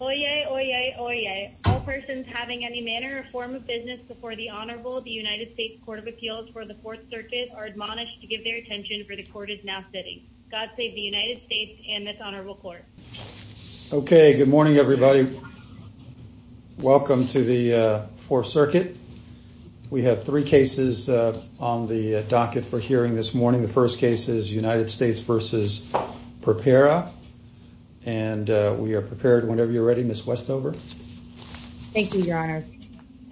Oyez, oyez, oyez. All persons having any manner or form of business before the Honorable, the United States Court of Appeals for the Fourth Circuit, are admonished to give their attention for the Court is now sitting. God save the United States and this Honorable Court. Okay, good morning, everybody. Welcome to the Fourth Circuit. We have three cases on the docket for hearing this morning. The first case is United States v. Purpera, and we are prepared whenever you're ready, Ms. Westover. Thank you, Your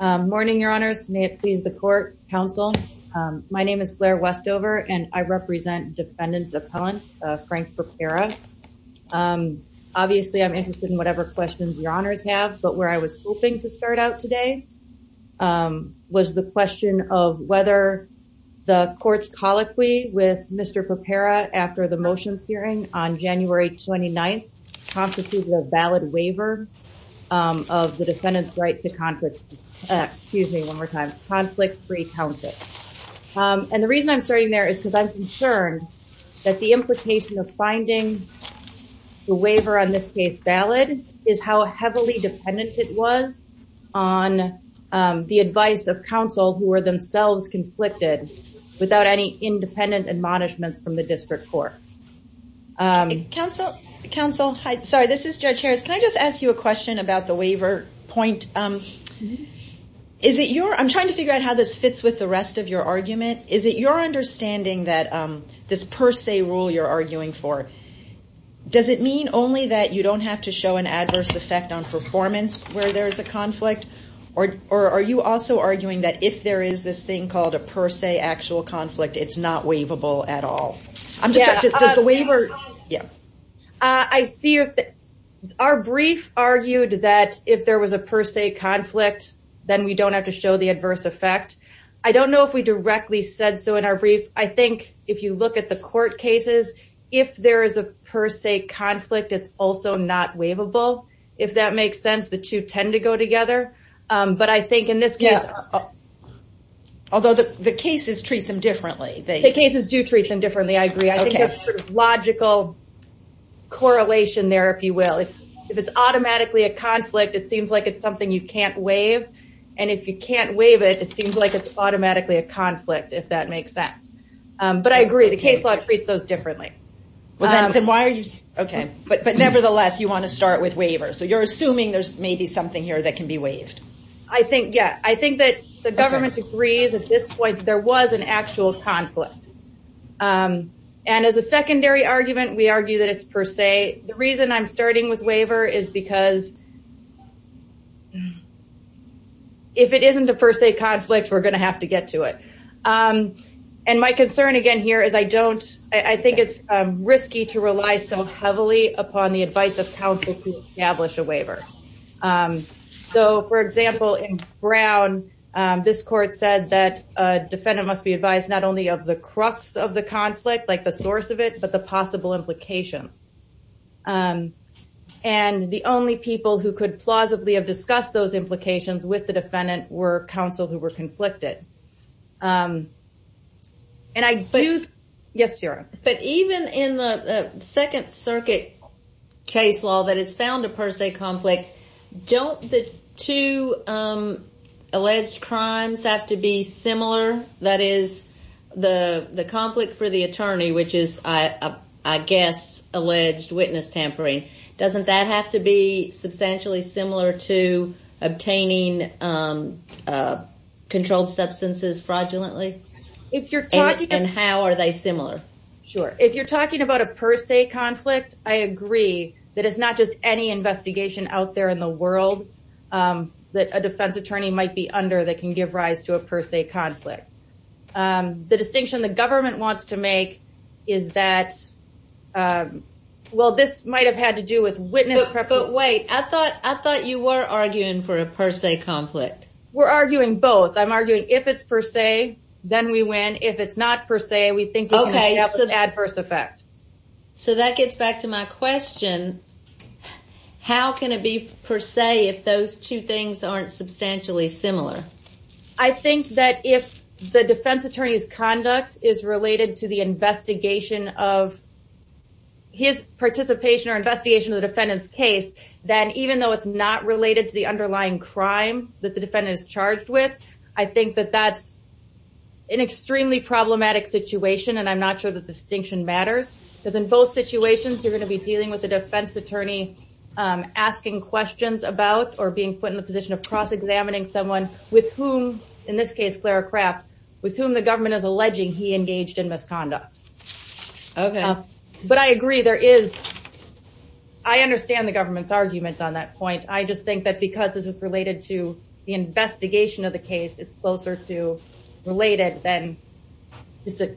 Honor. Morning, Your Honors. May it please the court, counsel. My name is Blair Westover, and I represent Defendant Appellant Frank Purpera. Obviously, I'm interested in whatever questions Your Honors have. But where I was hoping to start out today was the question of whether the court's colloquy with Mr. Purpera after the motions hearing on January 29th constituted a valid waiver of the defendant's right to conflict, excuse me, one more time, conflict-free count it. And the reason I'm starting there is because I'm concerned that the implication of finding the waiver on this case valid is how heavily dependent it was on the advice of counsel who are themselves conflicted without any independent admonishments from the district court. Counsel, counsel. Hi, sorry. This is Judge Harris. Can I just ask you a question about the waiver point? I'm trying to figure out how this fits with the rest of your argument. Is it your understanding that this per se rule you're arguing for, does it mean only that you don't have to show an adverse effect on performance where there is a conflict? Or are you also arguing that if there is this thing called a per se actual conflict, it's not waivable at all? I'm just, does the waiver, yeah. I see, our brief argued that if there was a per se conflict, then we don't have to show the adverse effect. I don't know if we directly said so in our brief. I think if you look at the court cases, if there is a per se conflict, it's also not waivable. If that makes sense, the two tend to go together. But I think in this case, although the cases treat them differently. The cases do treat them differently. I think there's a logical correlation there, if you will. If it's automatically a conflict, it seems like it's something you can't waive. And if you can't waive it, it seems like it's automatically a conflict, if that makes sense. But I agree, the case law treats those differently. Okay, but nevertheless, you want to start with waivers. So you're assuming there's maybe something here that can be waived? I think, yeah. I think that the government agrees at this point, there was an actual conflict. And as a secondary argument, we argue that it's per se. The reason I'm starting with waiver is because if it isn't a per se conflict, we're going to have to get to it. And my concern again here is I don't, I think it's risky to rely so heavily upon the advice of counsel to establish a waiver. So for example, in Brown, this court said that a defendant must be advised not only of the crux of the conflict, like the source of it, but the possible implications. And the only people who could plausibly have discussed those implications with the defendant were counsel who were conflicted. Yes, Shira. But even in the Second Circuit case law that has found a per se conflict, don't the two alleged crimes have to be similar? That is the conflict for the attorney, which is, I guess, alleged witness tampering. Doesn't that have to be substantially similar to obtaining controlled substances fraudulently? And how are they similar? Sure. If you're talking about a per se conflict, I agree that it's not just any investigation out there in the world that a defense attorney might be under that can give rise to a per se conflict. The distinction the government wants to make is that, well, this might have had to do with witness prepping. But wait, I thought you were arguing for a per se conflict. We're arguing both. I'm arguing if it's per se, then we win. If it's not per se, we think we can make out the adverse effect. So that gets back to my question. How can it be per se if those two things aren't substantially similar? I think that if the defense attorney's conduct is related to the investigation of his participation or investigation of the defendant's case, then even though it's not related to the underlying crime that the defendant is charged with, I think that that's an extremely problematic situation. And I'm not sure that distinction matters. Because in both situations, you're going to be dealing with the defense attorney asking questions about or being put in the position of cross-examining someone with whom, in this case, Clara Kraft, with whom the government is alleging he engaged in misconduct. OK. But I agree. I understand the government's argument on that point. I just think that because this is related to the investigation of the case, it's closer to related than it's a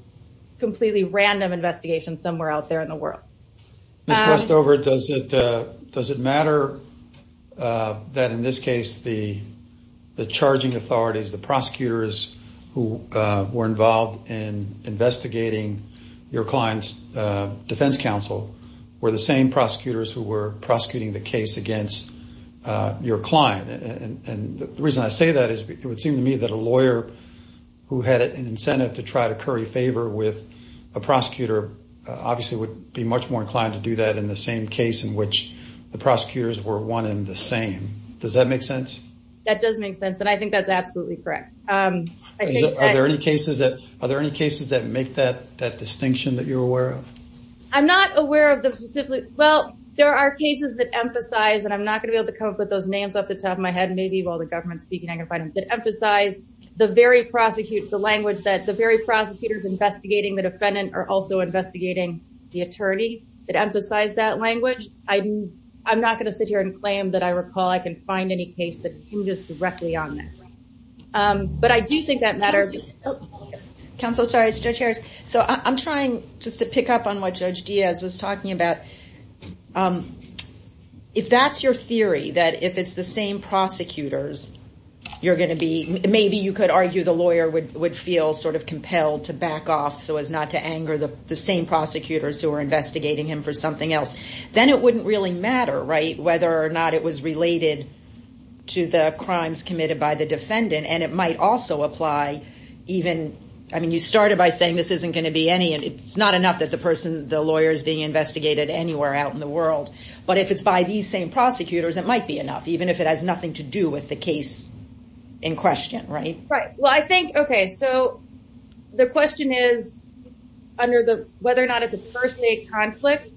completely random investigation somewhere out there in the world. Ms. Westover, does it matter that, in this case, the charging authorities, the prosecutors who were involved in investigating your client's defense counsel were the same prosecutors who were prosecuting the case against your client? And the reason I say that is it would seem to me that a lawyer who had an incentive to in the same case in which the prosecutors were one and the same. Does that make sense? That does make sense. And I think that's absolutely correct. Are there any cases that make that distinction that you're aware of? I'm not aware of the specific. Well, there are cases that emphasize, and I'm not going to be able to come up with those names off the top of my head, maybe while the government's speaking, I can find them, that emphasize the very language that the very prosecutors investigating the defendant are also investigating the attorney that emphasize that language. I'm not going to sit here and claim that I recall I can find any case that hinges directly on that. But I do think that matter. Counsel, sorry, it's Judge Harris. So I'm trying just to pick up on what Judge Diaz was talking about. If that's your theory, that if it's the same prosecutors, you're going to be, maybe you could argue the lawyer would feel compelled to back off so as not to anger the same prosecutors who are investigating him for something else. Then it wouldn't really matter whether or not it was related to the crimes committed by the defendant. And it might also apply even, I mean, you started by saying this isn't going to be any, and it's not enough that the person, the lawyer is being investigated anywhere out in the world. But if it's by these same prosecutors, it might be enough, even if it has nothing to do with the case in question, right? Well, I think, okay, so the question is under the, whether or not it's a per se conflict.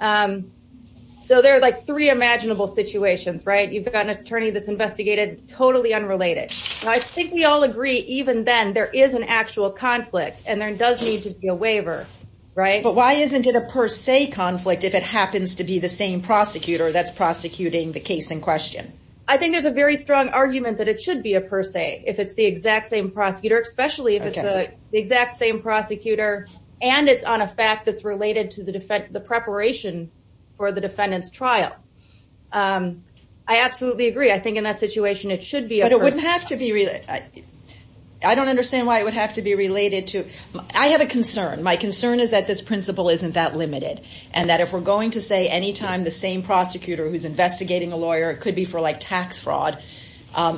So there are like three imaginable situations, right? You've got an attorney that's investigated, totally unrelated. I think we all agree even then there is an actual conflict and there does need to be a waiver, right? But why isn't it a per se conflict if it happens to be the same prosecutor that's prosecuting the case in question? I think there's a very strong argument that it should be a per se if it's the exact same prosecutor, especially if it's the exact same prosecutor and it's on a fact that's related to the preparation for the defendant's trial. I absolutely agree. I think in that situation, it should be a per se. But it wouldn't have to be, I don't understand why it would have to be related to, I have a concern. My concern is that this principle isn't that limited and that if we're going to say anytime the same prosecutor who's investigating a lawyer, it could be for like tax fraud,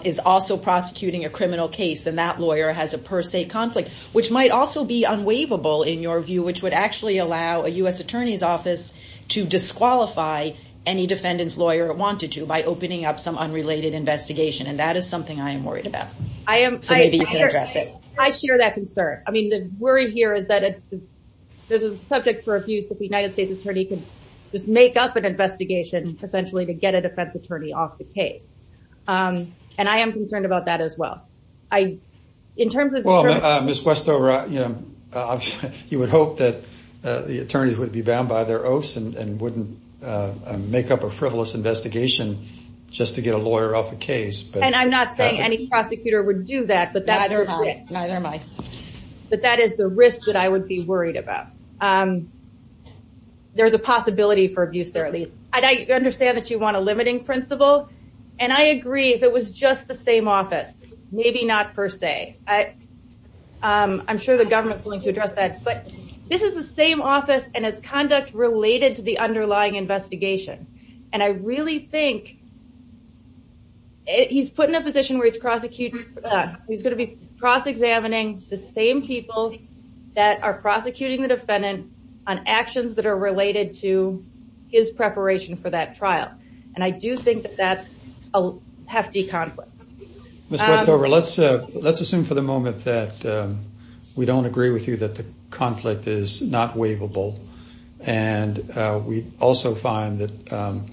is also prosecuting a criminal case, then that lawyer has a per se conflict, which might also be unwaivable in your view, which would actually allow a U.S. attorney's office to disqualify any defendant's lawyer wanted to by opening up some unrelated investigation. And that is something I am worried about. So maybe you can address it. I share that concern. I mean, the worry here is that there's a subject for abuse that the United States attorney just make up an investigation essentially to get a defense attorney off the case. And I am concerned about that as well. In terms of- Well, Ms. Westover, you would hope that the attorneys would be bound by their oaths and wouldn't make up a frivolous investigation just to get a lawyer off the case. And I'm not saying any prosecutor would do that. But that is the risk that I would be worried about. And there's a possibility for abuse there at least. And I understand that you want a limiting principle. And I agree if it was just the same office, maybe not per se. I'm sure the government's willing to address that. But this is the same office and its conduct related to the underlying investigation. And I really think he's put in a position where he's going to be cross examining the same people that are prosecuting the defendant on actions that are related to his preparation for that trial. And I do think that that's a hefty conflict. Ms. Westover, let's assume for the moment that we don't agree with you that the conflict is not waivable. And we also find that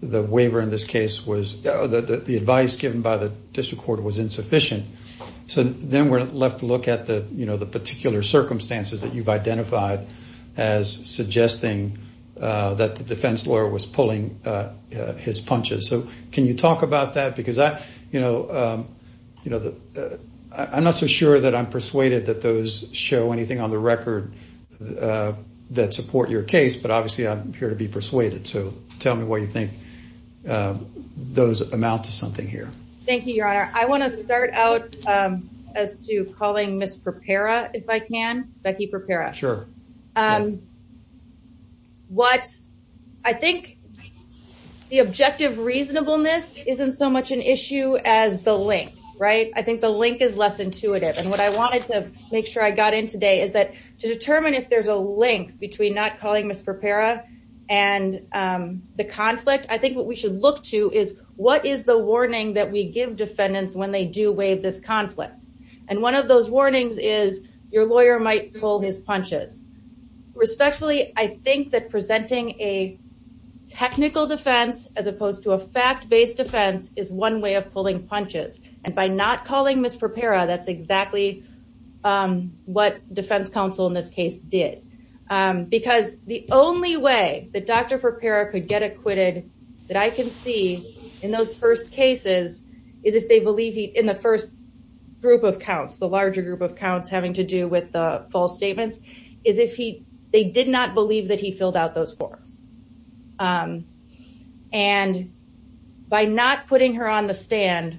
the waiver in this case was- the advice given by the district court was insufficient. So then we're left to look at the particular circumstances that you've identified as suggesting that the defense lawyer was pulling his punches. So can you talk about that? Because I'm not so sure that I'm persuaded that those show anything on the record that support your case. But obviously, I'm here to be persuaded. So tell me what you think those amount to something here. Thank you, Your Honor. I want to start out as to calling Ms. Perpera, if I can. Becky Perpera. What I think the objective reasonableness isn't so much an issue as the link, right? I think the link is less intuitive. And what I wanted to make sure I got in today is that to determine if there's a link between not calling Ms. Perpera and the conflict, I think what we should look to is what is the they do waive this conflict. And one of those warnings is your lawyer might pull his punches. Respectfully, I think that presenting a technical defense as opposed to a fact-based defense is one way of pulling punches. And by not calling Ms. Perpera, that's exactly what defense counsel in this case did. Because the only way that Dr. Perpera could get acquitted that I can see in those first cases is if they believe he, in the first group of counts, the larger group of counts having to do with the false statements, is if they did not believe that he filled out those forms. And by not putting her on the stand,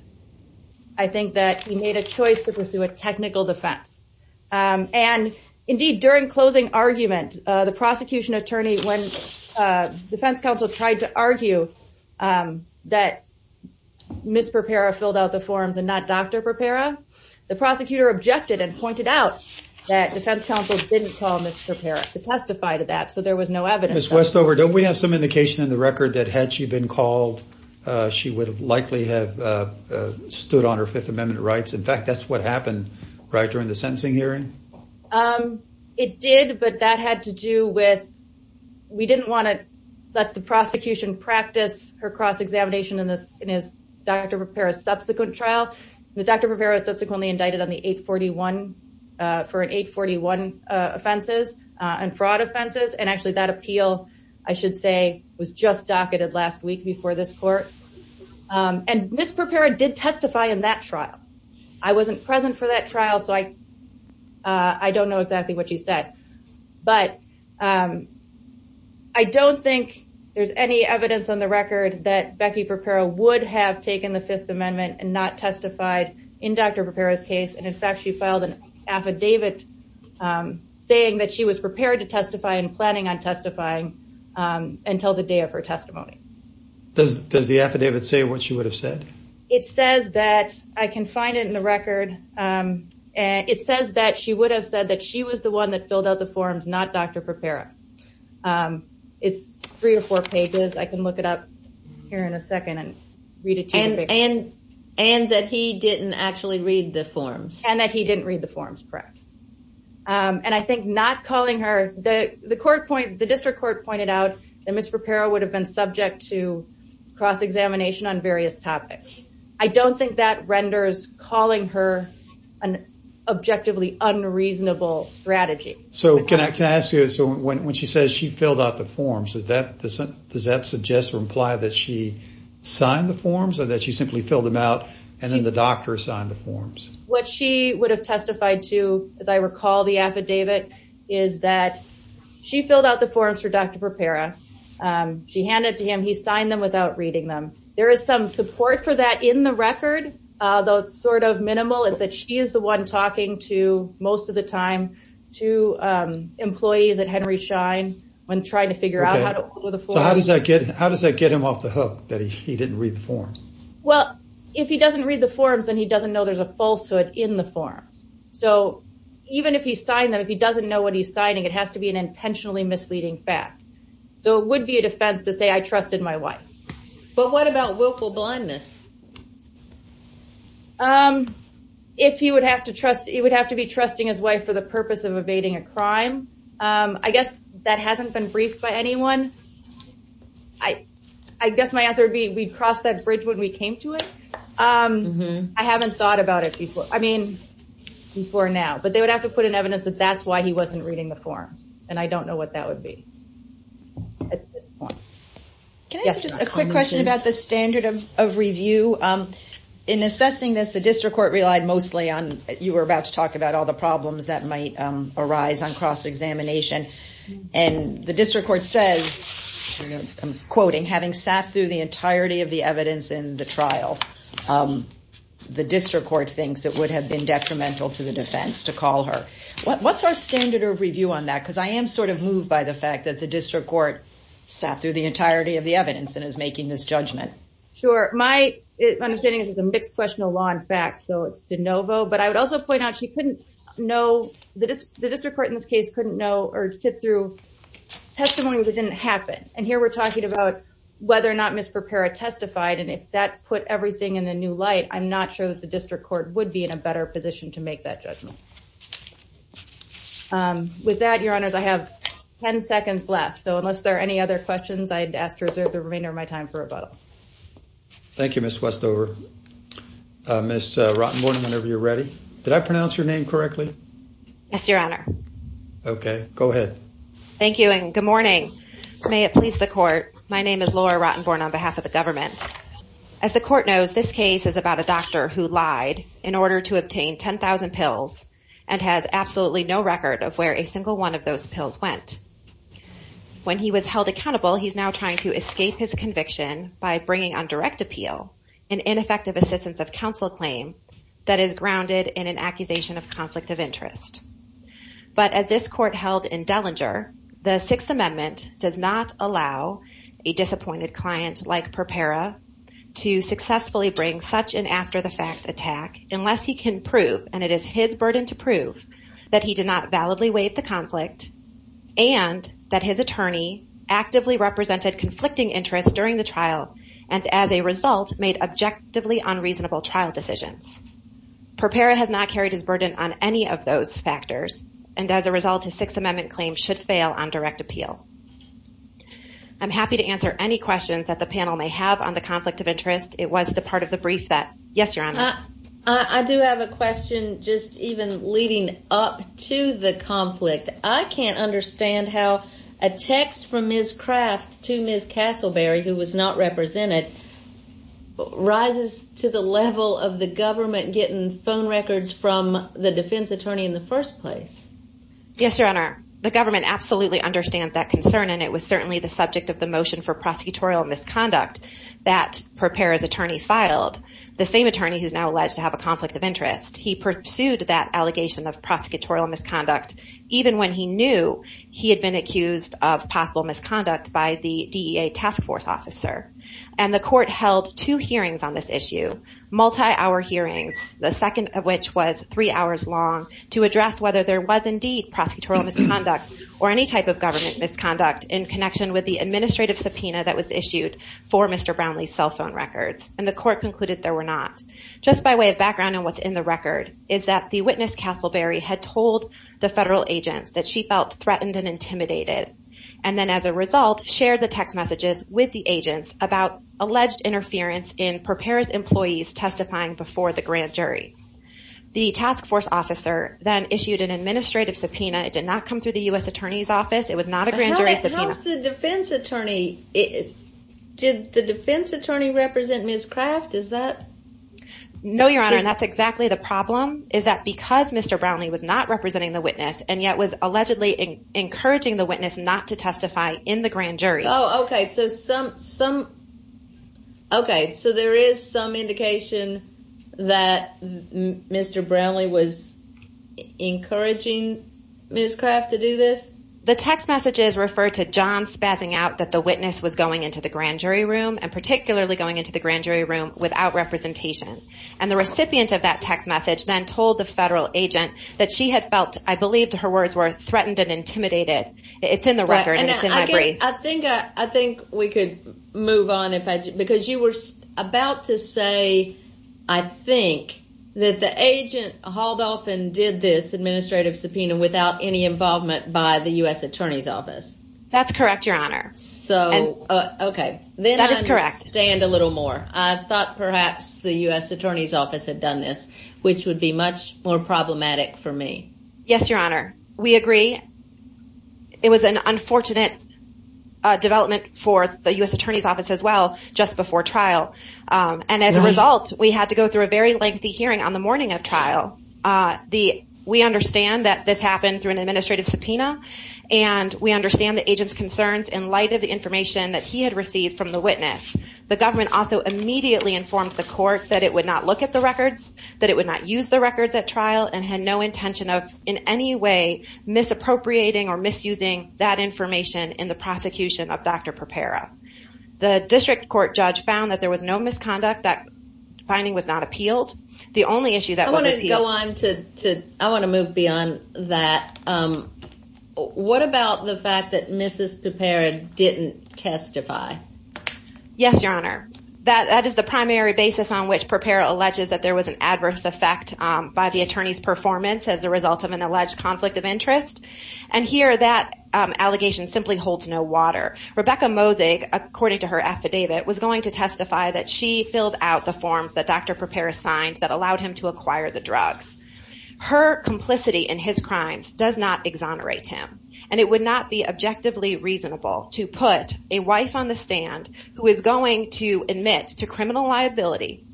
I think that he made a choice to pursue a technical defense. And indeed, during closing argument, the prosecution attorney, when defense counsel tried to argue that Ms. Perpera filled out the forms and not Dr. Perpera, the prosecutor objected and pointed out that defense counsel didn't call Ms. Perpera to testify to that. So there was no evidence. Ms. Westover, don't we have some indication in the record that had she been called, she would have likely have stood on her Fifth Amendment rights? In fact, that's what happened, right, during the sentencing hearing? Um, it did. But that had to do with, we didn't want to let the prosecution practice her cross-examination in this, in his Dr. Perpera's subsequent trial. Dr. Perpera was subsequently indicted on the 841, for an 841 offenses and fraud offenses. And actually, that appeal, I should say, was just docketed last week before this court. And Ms. Perpera did testify in that trial. I wasn't present for that trial, so I don't know exactly what she said. But I don't think there's any evidence on the record that Becky Perpera would have taken the Fifth Amendment and not testified in Dr. Perpera's case. And in fact, she filed an affidavit saying that she was prepared to testify and planning on testifying until the day of her testimony. Does the affidavit say what she would have said? It says that, I can find it in the record. It says that she would have said that she was the one that filled out the forms, not Dr. Perpera. It's three or four pages. I can look it up here in a second and read it to you. And that he didn't actually read the forms. And that he didn't read the forms, correct. And I think not calling her, the court point, the district court pointed out that Ms. Perpera would have been subject to cross-examination on various topics. I don't think that renders calling her an objectively unreasonable strategy. So can I ask you, when she says she filled out the forms, does that suggest or imply that she signed the forms or that she simply filled them out and then the doctor signed the forms? What she would have testified to, as I recall the affidavit, is that she filled out the she handed it to him. He signed them without reading them. There is some support for that in the record, though it's sort of minimal. It's that she is the one talking to, most of the time, to employees at Henry Schein when trying to figure out how to fill out the forms. So how does that get him off the hook that he didn't read the forms? Well, if he doesn't read the forms, then he doesn't know there's a falsehood in the forms. So even if he signed them, if he doesn't know what he's signing, it has to be an intentionally misleading fact. So it would be a defense to say I trusted my wife. But what about willful blindness? If he would have to trust, he would have to be trusting his wife for the purpose of evading a crime. I guess that hasn't been briefed by anyone. I guess my answer would be we crossed that bridge when we came to it. I haven't thought about it before. I mean, before now, but they would have to put in evidence that that's why he wasn't reading the forms. And I don't know what that would be. At this point, can I ask just a quick question about the standard of review? In assessing this, the district court relied mostly on, you were about to talk about all the problems that might arise on cross-examination. And the district court says, I'm quoting, having sat through the entirety of the evidence in the trial, the district court thinks it would have been detrimental to the defense to call her. What's our standard of review on that? Because I am sort of moved by the fact that the district court sat through the entirety of the evidence and is making this judgment. Sure. My understanding is it's a mixed question of law and fact, so it's de novo. But I would also point out she couldn't know, the district court in this case couldn't know or sit through testimony that didn't happen. And here we're talking about whether or not Ms. Perpera testified. And if that put everything in a new light, I'm not sure that the district court would be in a better position to make that judgment. With that, your honors, I have 10 seconds left. So unless there are any other questions, I'd ask to reserve the remainder of my time for rebuttal. Thank you, Ms. Westover. Ms. Rottenborn, whenever you're ready. Did I pronounce your name correctly? Yes, your honor. Okay, go ahead. Thank you and good morning. May it please the court. My name is Laura Rottenborn on behalf of the government. As the court knows, this case is about a doctor who lied in order to obtain 10,000 pills and has absolutely no record of where a single one of those pills went. When he was held accountable, he's now trying to escape his conviction by bringing on direct appeal, an ineffective assistance of counsel claim that is grounded in an accusation of conflict of interest. But as this court held in Dellinger, the Sixth Amendment does not allow a disappointed client like Perpera to successfully bring such an after the fact attack unless he can prove, and it is his burden to prove, that he did not validly waive the conflict and that his attorney actively represented conflicting interests during the trial and as a result made objectively unreasonable trial decisions. Perpera has not carried his burden on any of those factors and as a result, his Sixth Amendment claim should fail on direct appeal. I'm happy to answer any questions that the panel may have on the conflict of interest. It was the part of the brief that... Yes, your honor. I do have a question just even leading up to the conflict. I can't understand how a text from Ms. Craft to Ms. Castleberry, who was not represented, rises to the level of the government getting phone records from the defense attorney in the first place. Yes, your honor. The government absolutely understand that concern and it was certainly the subject of the motion for prosecutorial misconduct that Perpera's attorney filed. The same attorney who's now alleged to have a conflict of interest. He pursued that allegation of prosecutorial misconduct even when he knew he had been accused of possible misconduct by the DEA task force officer and the court held two hearings on this issue, multi-hour hearings, the second of which was three hours long to address whether there was indeed prosecutorial misconduct or any type of government misconduct in connection with the administrative subpoena that was issued for Mr. Brownlee's cell phone records and the court concluded there were not. Just by way of background on what's in the record is that the witness Castleberry had told the federal agents that she felt threatened and intimidated and then as a result shared the text messages with the agents about alleged interference in Perpera's employees testifying before the grand jury. The task force officer then issued an administrative subpoena. It did not come through the U.S. attorney's office. It was not a grand jury subpoena. How's the defense attorney? Did the defense attorney represent Ms. Craft? Is that? No, your honor. That's exactly the problem is that because Mr. Brownlee was not representing the witness and yet was allegedly encouraging the witness not to testify in the grand jury. Oh, okay. So some some. Okay. So there is some indication that Mr. Brownlee was encouraging Ms. Craft to do this. The text messages refer to John spazzing out that the witness was going into the grand jury room and particularly going into the grand jury room without representation. And the recipient of that text message then told the federal agent that she had felt I believed her words were threatened and intimidated. It's in the record. I think I think we could move on if I because you were about to say I think that the agent hauled off and did this administrative subpoena without any involvement by the U.S. attorney's office. That's correct, your honor. So, okay. Then I understand a little more. I thought perhaps the U.S. attorney's office had done this, which would be much more problematic for me. Yes, your honor. We agree. It was an unfortunate development for the U.S. attorney's office as well just before trial, and as a result, we had to go through a very lengthy hearing on the morning of trial. We understand that this happened through an administrative subpoena, and we understand the agent's concerns in light of the information that he had received from the witness. The government also immediately informed the court that it would not look at the records, that it would not use the records at trial, and had no intention of in any way misappropriating or misusing that information in the prosecution of Dr. Perpera. The district court judge found that there was no misconduct. That finding was not appealed. The only issue that wasn't appealed- I want to go on to, I want to move beyond that. What about the fact that Mrs. Perpera didn't testify? Yes, your honor. That is the primary basis on which Perpera alleges that there was an adverse effect by the attorney's performance as a result of an alleged conflict of interest, and here that allegation simply holds no water. Rebecca Mosig, according to her affidavit, was going to testify that she filled out the forms that Dr. Perpera signed that allowed him to acquire the drugs. Her complicity in his crimes does not exonerate him, and it would not be objectively reasonable to put a wife on the stand who is going to admit to criminal liability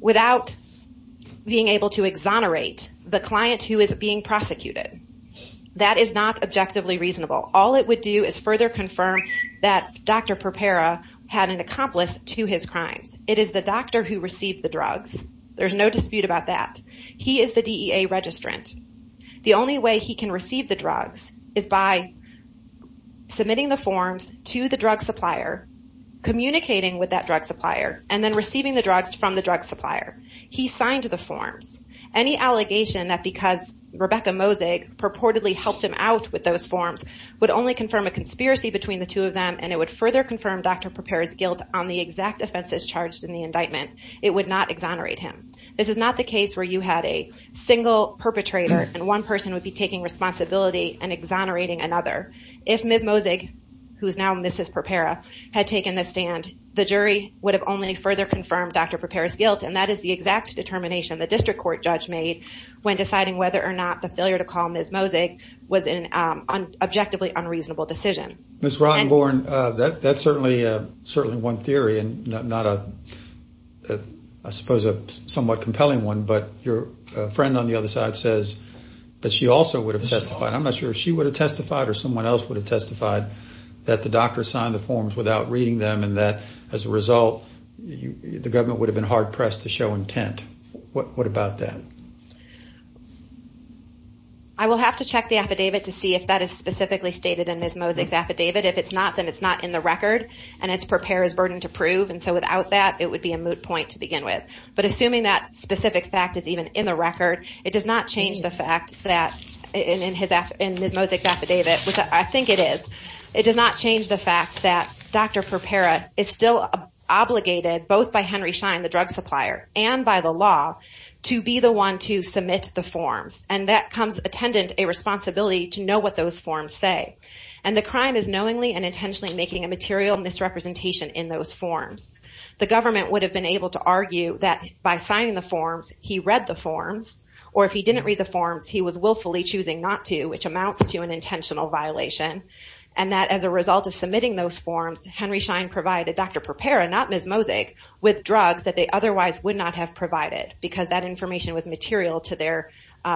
without being able to exonerate the client who is being prosecuted. That is not objectively reasonable. All it would do is further confirm that Dr. Perpera had an accomplice to his crimes. It is the doctor who received the drugs. There's no dispute about that. He is the DEA registrant. The only way he can receive the drugs is by submitting the forms to the drug supplier, communicating with that drug supplier, and then receiving the drugs from the drug supplier. He signed the forms. Any allegation that because Rebecca Mosig purportedly helped him out with those forms would only confirm a conspiracy between the two of them, and it would further confirm Dr. Perpera's guilt on the exact offenses charged in the indictment, it would not exonerate him. This is not the case where you had a single perpetrator, and one person would be taking responsibility and exonerating another. If Ms. Mosig, who is now Mrs. Perpera, had taken the stand, the jury would have only further confirmed Dr. Perpera's guilt, and that is the exact determination the district court judge made when deciding whether or not the failure to call Ms. Mosig was an objectively unreasonable decision. Ms. Rottenborn, that's certainly one theory, and not a, I suppose, a somewhat compelling one, but your friend on the other side says that she also would have testified. I'm not sure if she would have testified or someone else would have testified that the the government would have been hard-pressed to show intent. What about that? I will have to check the affidavit to see if that is specifically stated in Ms. Mosig's affidavit. If it's not, then it's not in the record, and it's Perpera's burden to prove, and so without that, it would be a moot point to begin with, but assuming that specific fact is even in the record, it does not change the fact that in Ms. Mosig's affidavit, which obligated both by Henry Schein, the drug supplier, and by the law, to be the one to submit the forms, and that comes attendant a responsibility to know what those forms say, and the crime is knowingly and intentionally making a material misrepresentation in those forms. The government would have been able to argue that by signing the forms, he read the forms, or if he didn't read the forms, he was willfully choosing not to, which amounts to an intentional violation, and that as a result of submitting those forms, Henry Schein provided Dr. Perpera and not Ms. Mosig with drugs that they otherwise would not have provided, because that information was material to their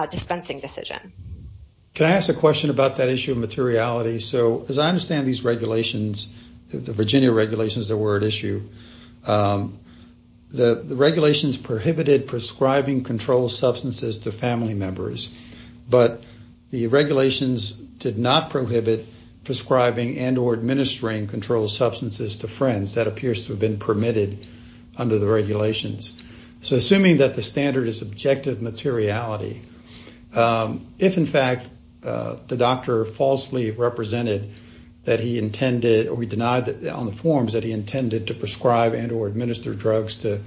dispensing decision. Can I ask a question about that issue of materiality? So, as I understand these regulations, the Virginia regulations that were at issue, the regulations prohibited prescribing controlled substances to family members, but the regulations did not prohibit prescribing and or administering controlled substances to friends. That appears to have been permitted under the regulations. So, assuming that the standard is objective materiality, if, in fact, the doctor falsely represented that he intended, or he denied on the forms that he intended to prescribe and or administer drugs to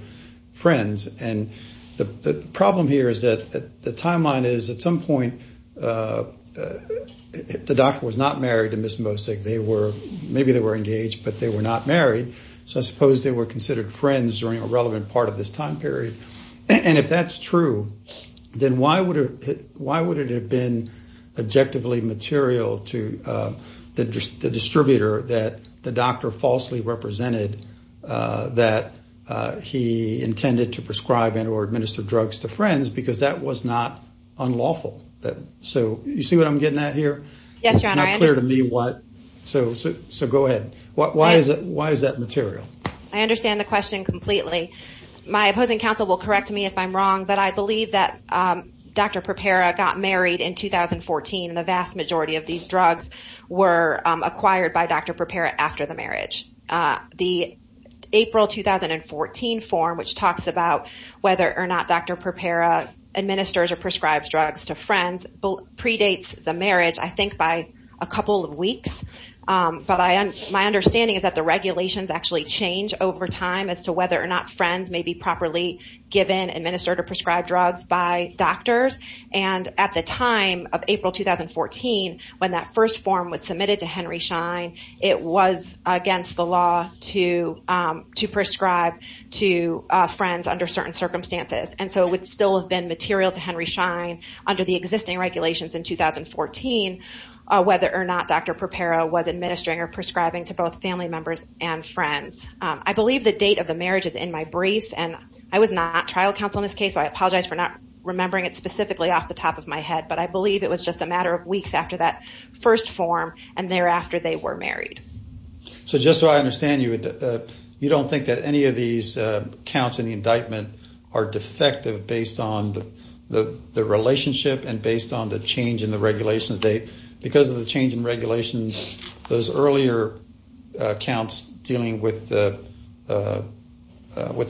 friends, and the problem here is that the timeline is, at some point, the doctor was not married to Ms. Mosig. Maybe they were engaged, but they were not married. So, I suppose they were considered friends during a relevant part of this time period, and if that's true, then why would it have been objectively material to the distributor that the doctor falsely represented that he intended to prescribe and or administer drugs to friends, because that was not unlawful. So, you see what I'm getting at here? Yes, Your Honor. It's not clear to me what, so go ahead. Why is that material? I understand the question completely. My opposing counsel will correct me if I'm wrong, but I believe that Dr. Prepera got married in 2014, and the vast majority of these drugs were acquired by Dr. Prepera after the marriage. The April 2014 form, which talks about whether or not Dr. Prepera administers or prescribes drugs to friends, predates the marriage, I think, by a couple of weeks. But my understanding is that the regulations actually change over time as to whether or not friends may be properly given, administered, or prescribed drugs by doctors. And at the time of April 2014, when that first form was submitted to Henry Schein, it was against the law to prescribe to friends under certain circumstances. And so, it would still have been material to Henry Schein under the existing regulations in 2014, whether or not Dr. Prepera was administering or prescribing to both family members and friends. I believe the date of the marriage is in my brief, and I was not trial counsel in this case, so I apologize for not remembering it specifically off the top of my head. But I believe it was just a matter of weeks after that first form, and thereafter they were married. So, just so I understand, you don't think that any of these counts in the indictment are defective based on the relationship and based on the change in the regulations date? Because of the change in regulations, those earlier counts dealing with the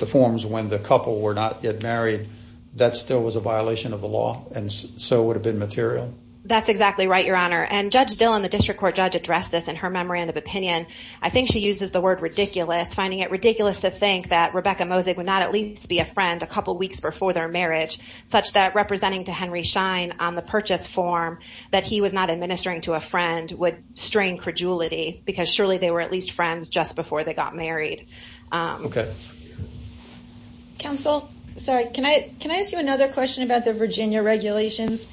forms when the couple were not yet married, that still was a violation of the law, and so would have been material? That's exactly right, Your Honor. And Judge Dillon, the district court judge, addressed this in her memorandum of opinion. I think she uses the word ridiculous, finding it ridiculous to think that Rebecca Mosig would not at least be a friend a couple weeks before their marriage, such that representing to Henry Schein on the purchase form that he was not administering to a friend would strain credulity, because surely they were at least friends just before they got married. Okay. Counsel, sorry, can I ask you another question about the Virginia regulations?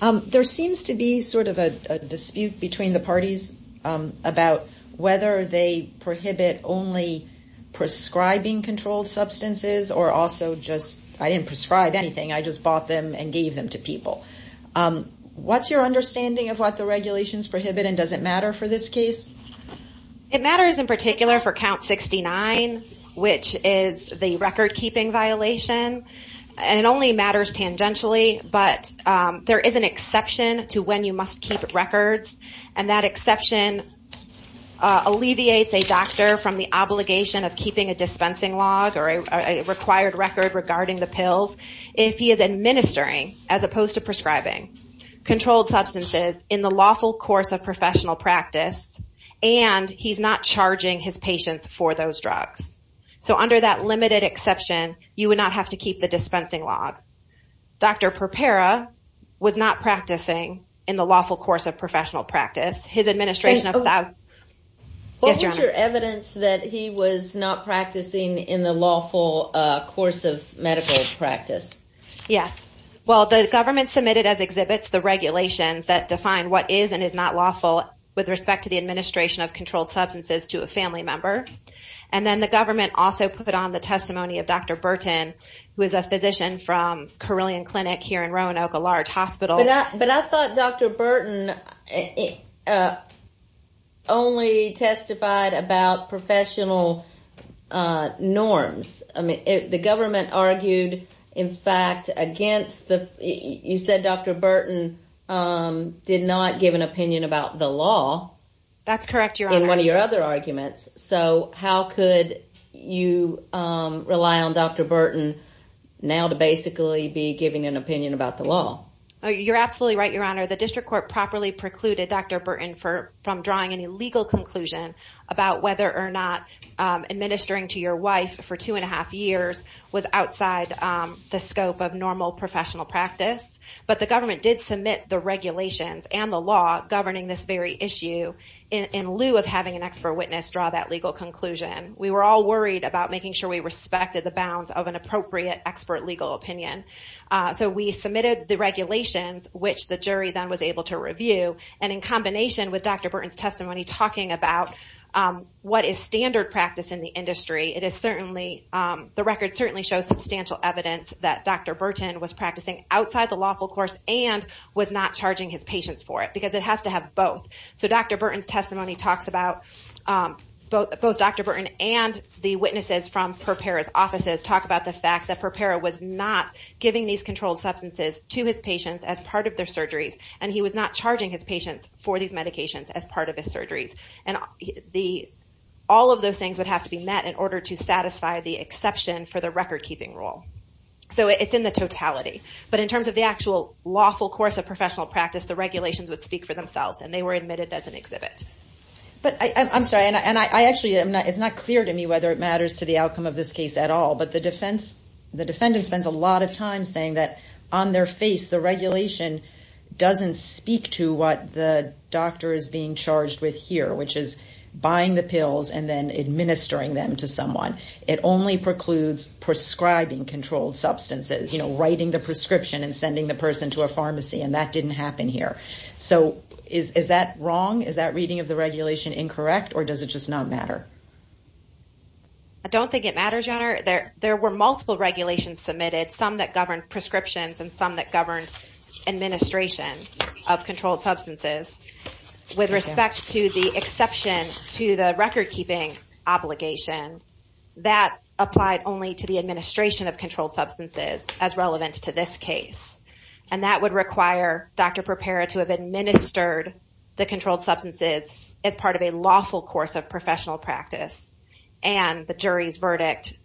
There seems to be sort of a dispute between the parties about whether they prohibit only prescribing controlled substances, or also just, I didn't prescribe anything, I just bought them and gave them to people. What's your understanding of what the regulations prohibit, and does it matter for this case? It matters in particular for count 69, which is the record keeping violation, and it only matters tangentially, but there is an exception to when you must keep records, and that exception alleviates a doctor from the obligation of keeping a dispensing log, or a required record regarding the pill, if he is administering, as opposed to prescribing, controlled substances in the lawful course of professional practice, and he's not charging his patients for those drugs. So under that limited exception, you would not have to keep the dispensing log. Dr. Perpera was not practicing in the lawful course of professional practice. His administration... What was your evidence that he was not practicing in the lawful course of medical practice? Yeah. Well, the government submitted as exhibits the regulations that define what is and is not lawful with respect to the administration of controlled substances to a family member, and then the government also put on the testimony of Dr. Burton, who is a physician from Carilion Clinic here in Roanoke, a large hospital. But I thought Dr. Burton only testified about professional norms. I mean, the government argued, in fact, against the... You said Dr. Burton did not give an opinion about the law. That's correct, Your Honor. In one of your other arguments. So how could you rely on Dr. Burton now to basically be giving an opinion about the law? You're absolutely right, Your Honor. The district court properly precluded Dr. Burton from drawing any legal conclusion about whether or not administering to your wife for two and a half years was outside the scope of normal professional practice, but the government did submit the regulations and the law governing this very issue in lieu of having an expert witness draw that legal conclusion. We were all worried about making sure we respected the bounds of an appropriate expert legal opinion. So we submitted the regulations, which the jury then was able to review, and in combination with Dr. Burton's testimony talking about what is standard practice in the industry, it is certainly... The record certainly shows substantial evidence that Dr. Burton was practicing outside the lawful course and was not charging his patients for it, because it has to have both. So Dr. Burton's testimony talks about... Both Dr. Burton and the witnesses from Prepera's offices talk about the fact that Prepera was not giving these controlled substances to his patients as part of their surgeries, and he was not charging his patients for these medications as part of his surgeries. And all of those things would have to be met in order to satisfy the exception for the record-keeping rule. So it's in the totality. But in terms of the actual lawful course of professional practice, the regulations would speak for themselves, and they were admitted as an exhibit. But I'm sorry, and actually it's not clear to me whether it matters to the outcome of this case at all. But the defendant spends a lot of time saying that on their face, the regulation doesn't speak to what the doctor is being charged with here, which is buying the pills and then administering them to someone. It only precludes prescribing controlled substances, writing the prescription and sending the person to a pharmacy, and that didn't happen here. So is that wrong? Is that reading of the regulation incorrect, or does it just not matter? I don't think it matters, Your Honor. There were multiple regulations submitted, some that governed prescriptions and some that governed administration of controlled substances. With respect to the exception to the record-keeping obligation, that applied only to the administration of controlled substances as relevant to this case, and that would require Dr. Perpera to have administered the controlled substances as part of a lawful course of professional practice. And the jury's verdict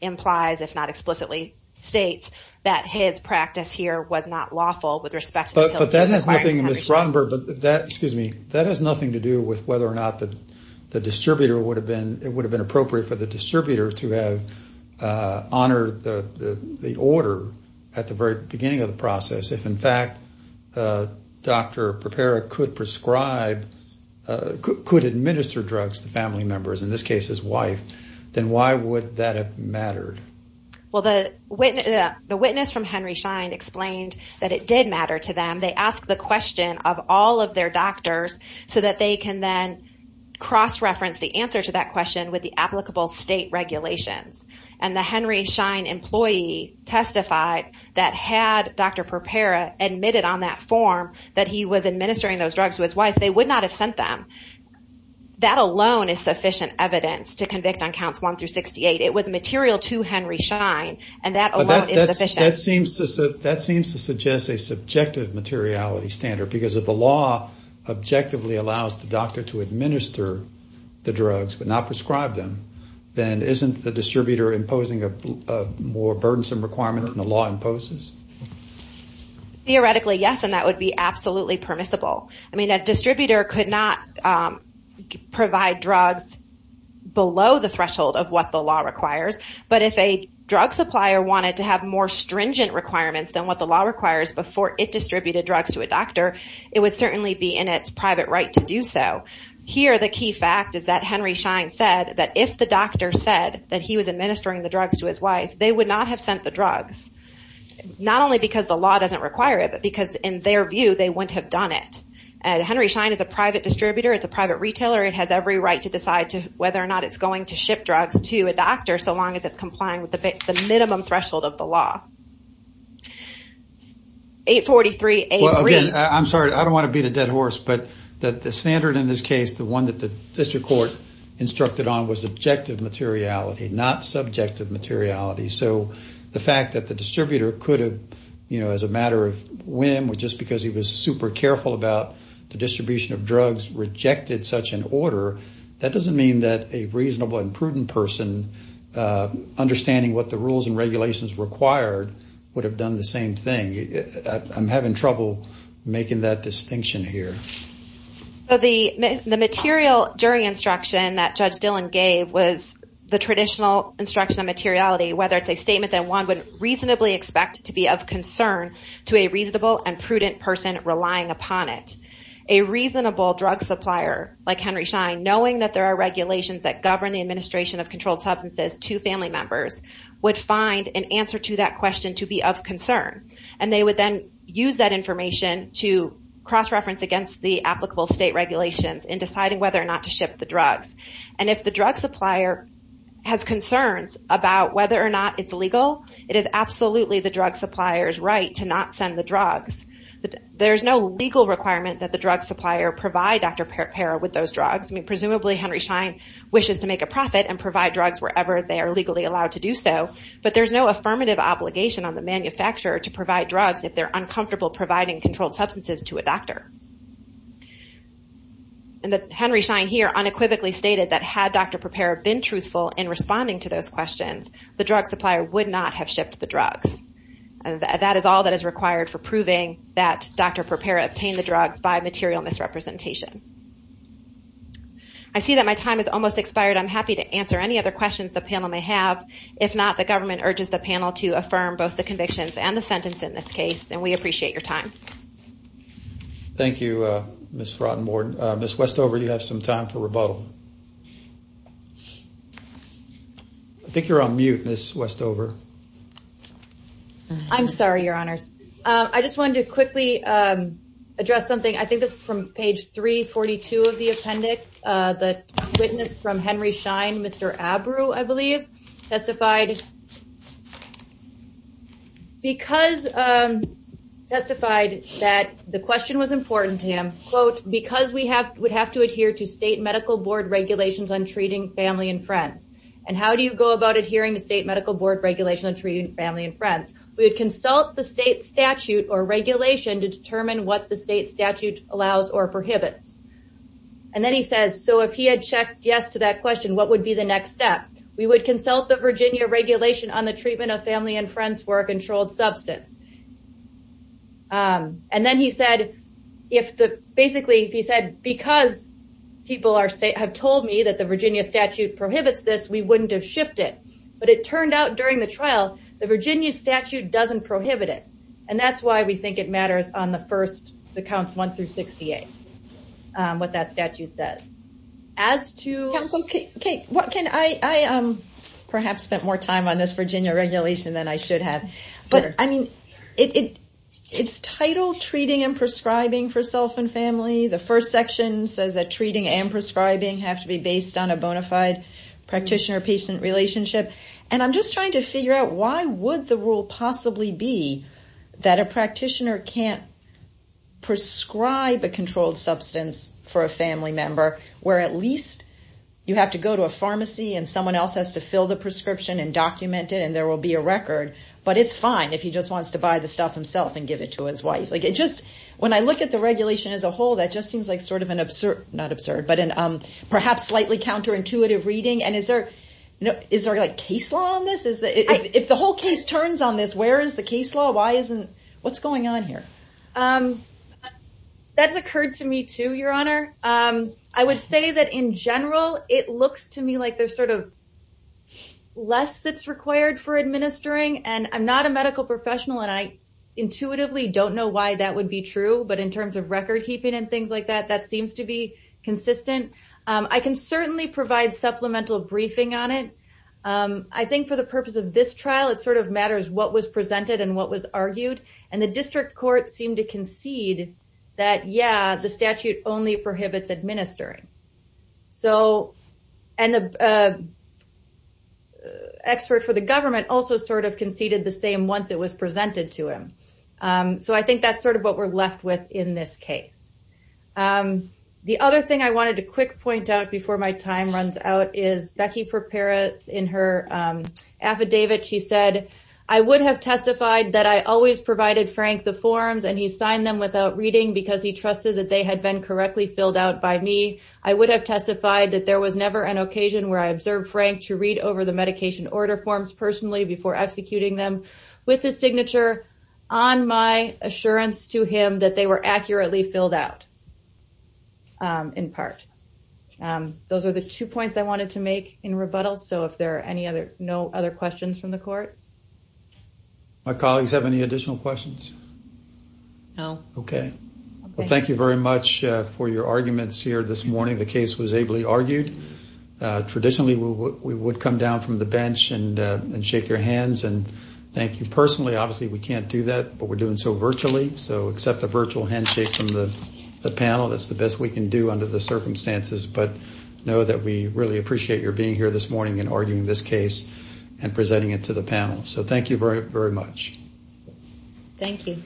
implies, if not explicitly states, that his practice here was not lawful with respect to the pills that he was requiring to be prescribed. But that has nothing to do with whether or not it would have been appropriate for the distributor to have honored the order at the very beginning of the process. If, in fact, Dr. Perpera could prescribe, could administer drugs to family members, in this case his wife, then why would that have mattered? Well, the witness from Henry Schein explained that it did matter to them. They asked the question of all of their doctors so that they can then cross-reference the answer to that question with the applicable state regulations. And the Henry Schein employee testified that had Dr. Perpera admitted on that form that he was administering those drugs to his wife, they would not have sent them. That alone is sufficient evidence to convict on counts 1 through 68. It was material to Henry Schein, and that alone is sufficient. That seems to suggest a subjective materiality standard, because if the law objectively allows the doctor to administer the drugs but not prescribe them, then isn't the distributor imposing a more burdensome requirement than the law imposes? Theoretically, yes, and that would be absolutely permissible. I mean, a distributor could not provide drugs below the threshold of what the law requires. But if a drug supplier wanted to have more stringent requirements than what the law requires before it distributed drugs to a doctor, it would certainly be in its private right to do so. Here, the key fact is that Henry Schein said that if the doctor said that he was administering the drugs to his wife, they would not have sent the drugs, not only because the law doesn't require it, but because in their view, they wouldn't have done it. And Henry Schein is a private distributor. It's a private retailer. It has every right to decide whether or not it's going to ship drugs to a doctor so long as it's complying with the minimum threshold of the law. Well, again, I'm sorry. I don't want to beat a dead horse, but the standard in this case, the one that the district court instructed on was objective materiality, not subjective materiality. So the fact that the distributor could have, you know, as a matter of whim, just because he was super careful about the distribution of drugs, rejected such an order, that doesn't mean that a reasonable and prudent person understanding what the rules and regulations required would have done the same thing. I'm having trouble making that distinction here. So the material jury instruction that Judge Dillon gave was the traditional instruction of materiality, whether it's a statement that one would reasonably expect to be of concern to a reasonable and prudent person relying upon it. A reasonable drug supplier like Henry Schein, knowing that there are regulations that govern the administration of controlled substances to family members, would find an answer to that question to be of concern. And they would then use that information to cross-reference against the applicable state regulations in deciding whether or not to ship the drugs. And if the drug supplier has concerns about whether or not it's legal, it is absolutely the drug supplier's right to not send the drugs. There's no legal requirement that the drug supplier provide Dr. Parra with those drugs. Presumably, Henry Schein wishes to make a profit and provide drugs wherever they are legally allowed to do so. But there's no affirmative obligation on the manufacturer to provide drugs if they're uncomfortable providing controlled substances to a doctor. And Henry Schein here unequivocally stated that had Dr. Parra been truthful in responding to those questions, the drug supplier would not have shipped the drugs. That is all that is required for proving that Dr. Parra obtained the drugs by material misrepresentation. I see that my time has almost expired. I'm happy to answer any other questions the panel may have. If not, the government urges the panel to affirm both the convictions and the sentence in this case. And we appreciate your time. Thank you, Ms. Frotenborn. Ms. Westover, you have some time for rebuttal. I think you're on mute, Ms. Westover. I'm sorry, Your Honors. I just wanted to quickly address something. I think this is from page 342 of the appendix. The witness from Henry Schein, Mr. Abreu, I believe, testified that the question was important to him, quote, because we would have to adhere to state medical board regulations on treating family and friends. And how do you go about adhering to state medical board regulations on treating family and friends? We would consult the state statute or regulation to determine what the state statute allows or prohibits. And then he says, so if he had checked yes to that question, what would be the next step? We would consult the Virginia regulation on the treatment of family and friends for a controlled substance. And then he said, basically, he said, because people have told me that the Virginia statute prohibits this, we wouldn't have shifted. But it turned out during the trial, the Virginia statute doesn't prohibit it. And that's why we think it matters on the first, the counts 1 through 68. What that statute says. As to what can I perhaps spent more time on this Virginia regulation than I should have. But I mean, it's titled treating and prescribing for self and family. The first section says that treating and prescribing have to be based on a bona fide practitioner patient relationship. And I'm just trying to figure out why would the rule possibly be that a practitioner can't prescribe a controlled substance for a family member, where at least you have to go to a pharmacy and someone else has to fill the prescription and document it and there will be a record. But it's fine if he just wants to buy the stuff himself and give it to his wife. When I look at the regulation as a whole, that just seems like sort of an absurd, not absurd, but perhaps slightly counterintuitive reading. And is there a case law on this? If the whole case turns on this, where is the case law? What's going on here? That's occurred to me too, Your Honor. I would say that in general, it looks to me like there's sort of less that's required for administering. And I'm not a medical professional and I intuitively don't know why that would be true. But in terms of record keeping and things like that, that seems to be consistent. I can certainly provide supplemental briefing on it. I think for the purpose of this trial, it sort of matters what was presented and what was argued. And the district court seemed to concede that, yeah, the statute only prohibits administering. And the expert for the government also sort of conceded the same once it was presented to him. So I think that's sort of what we're left with in this case. The other thing I wanted to quick point out before my time runs out is Becky Perpera in her affidavit. She said, I would have testified that I always provided Frank the forms and he signed them without reading because he trusted that they had been correctly filled out by me. I would have testified that there was never an occasion where I observed Frank to read over the medication order forms personally before executing them with the signature on my assurance to him that they were accurately filled out in part. Those are the two points I wanted to make in rebuttal. So if there are no other questions from the court? My colleagues have any additional questions? No. Okay. Well, thank you very much for your arguments here this morning. The case was ably argued. Traditionally, we would come down from the bench and shake your hands and thank you personally. Obviously, we can't do that, but we're doing so virtually. So accept a virtual handshake from the panel. That's the best we can do under the circumstances. Know that we really appreciate your being here this morning and arguing this case and presenting it to the panel. Thank you very much. Thank you.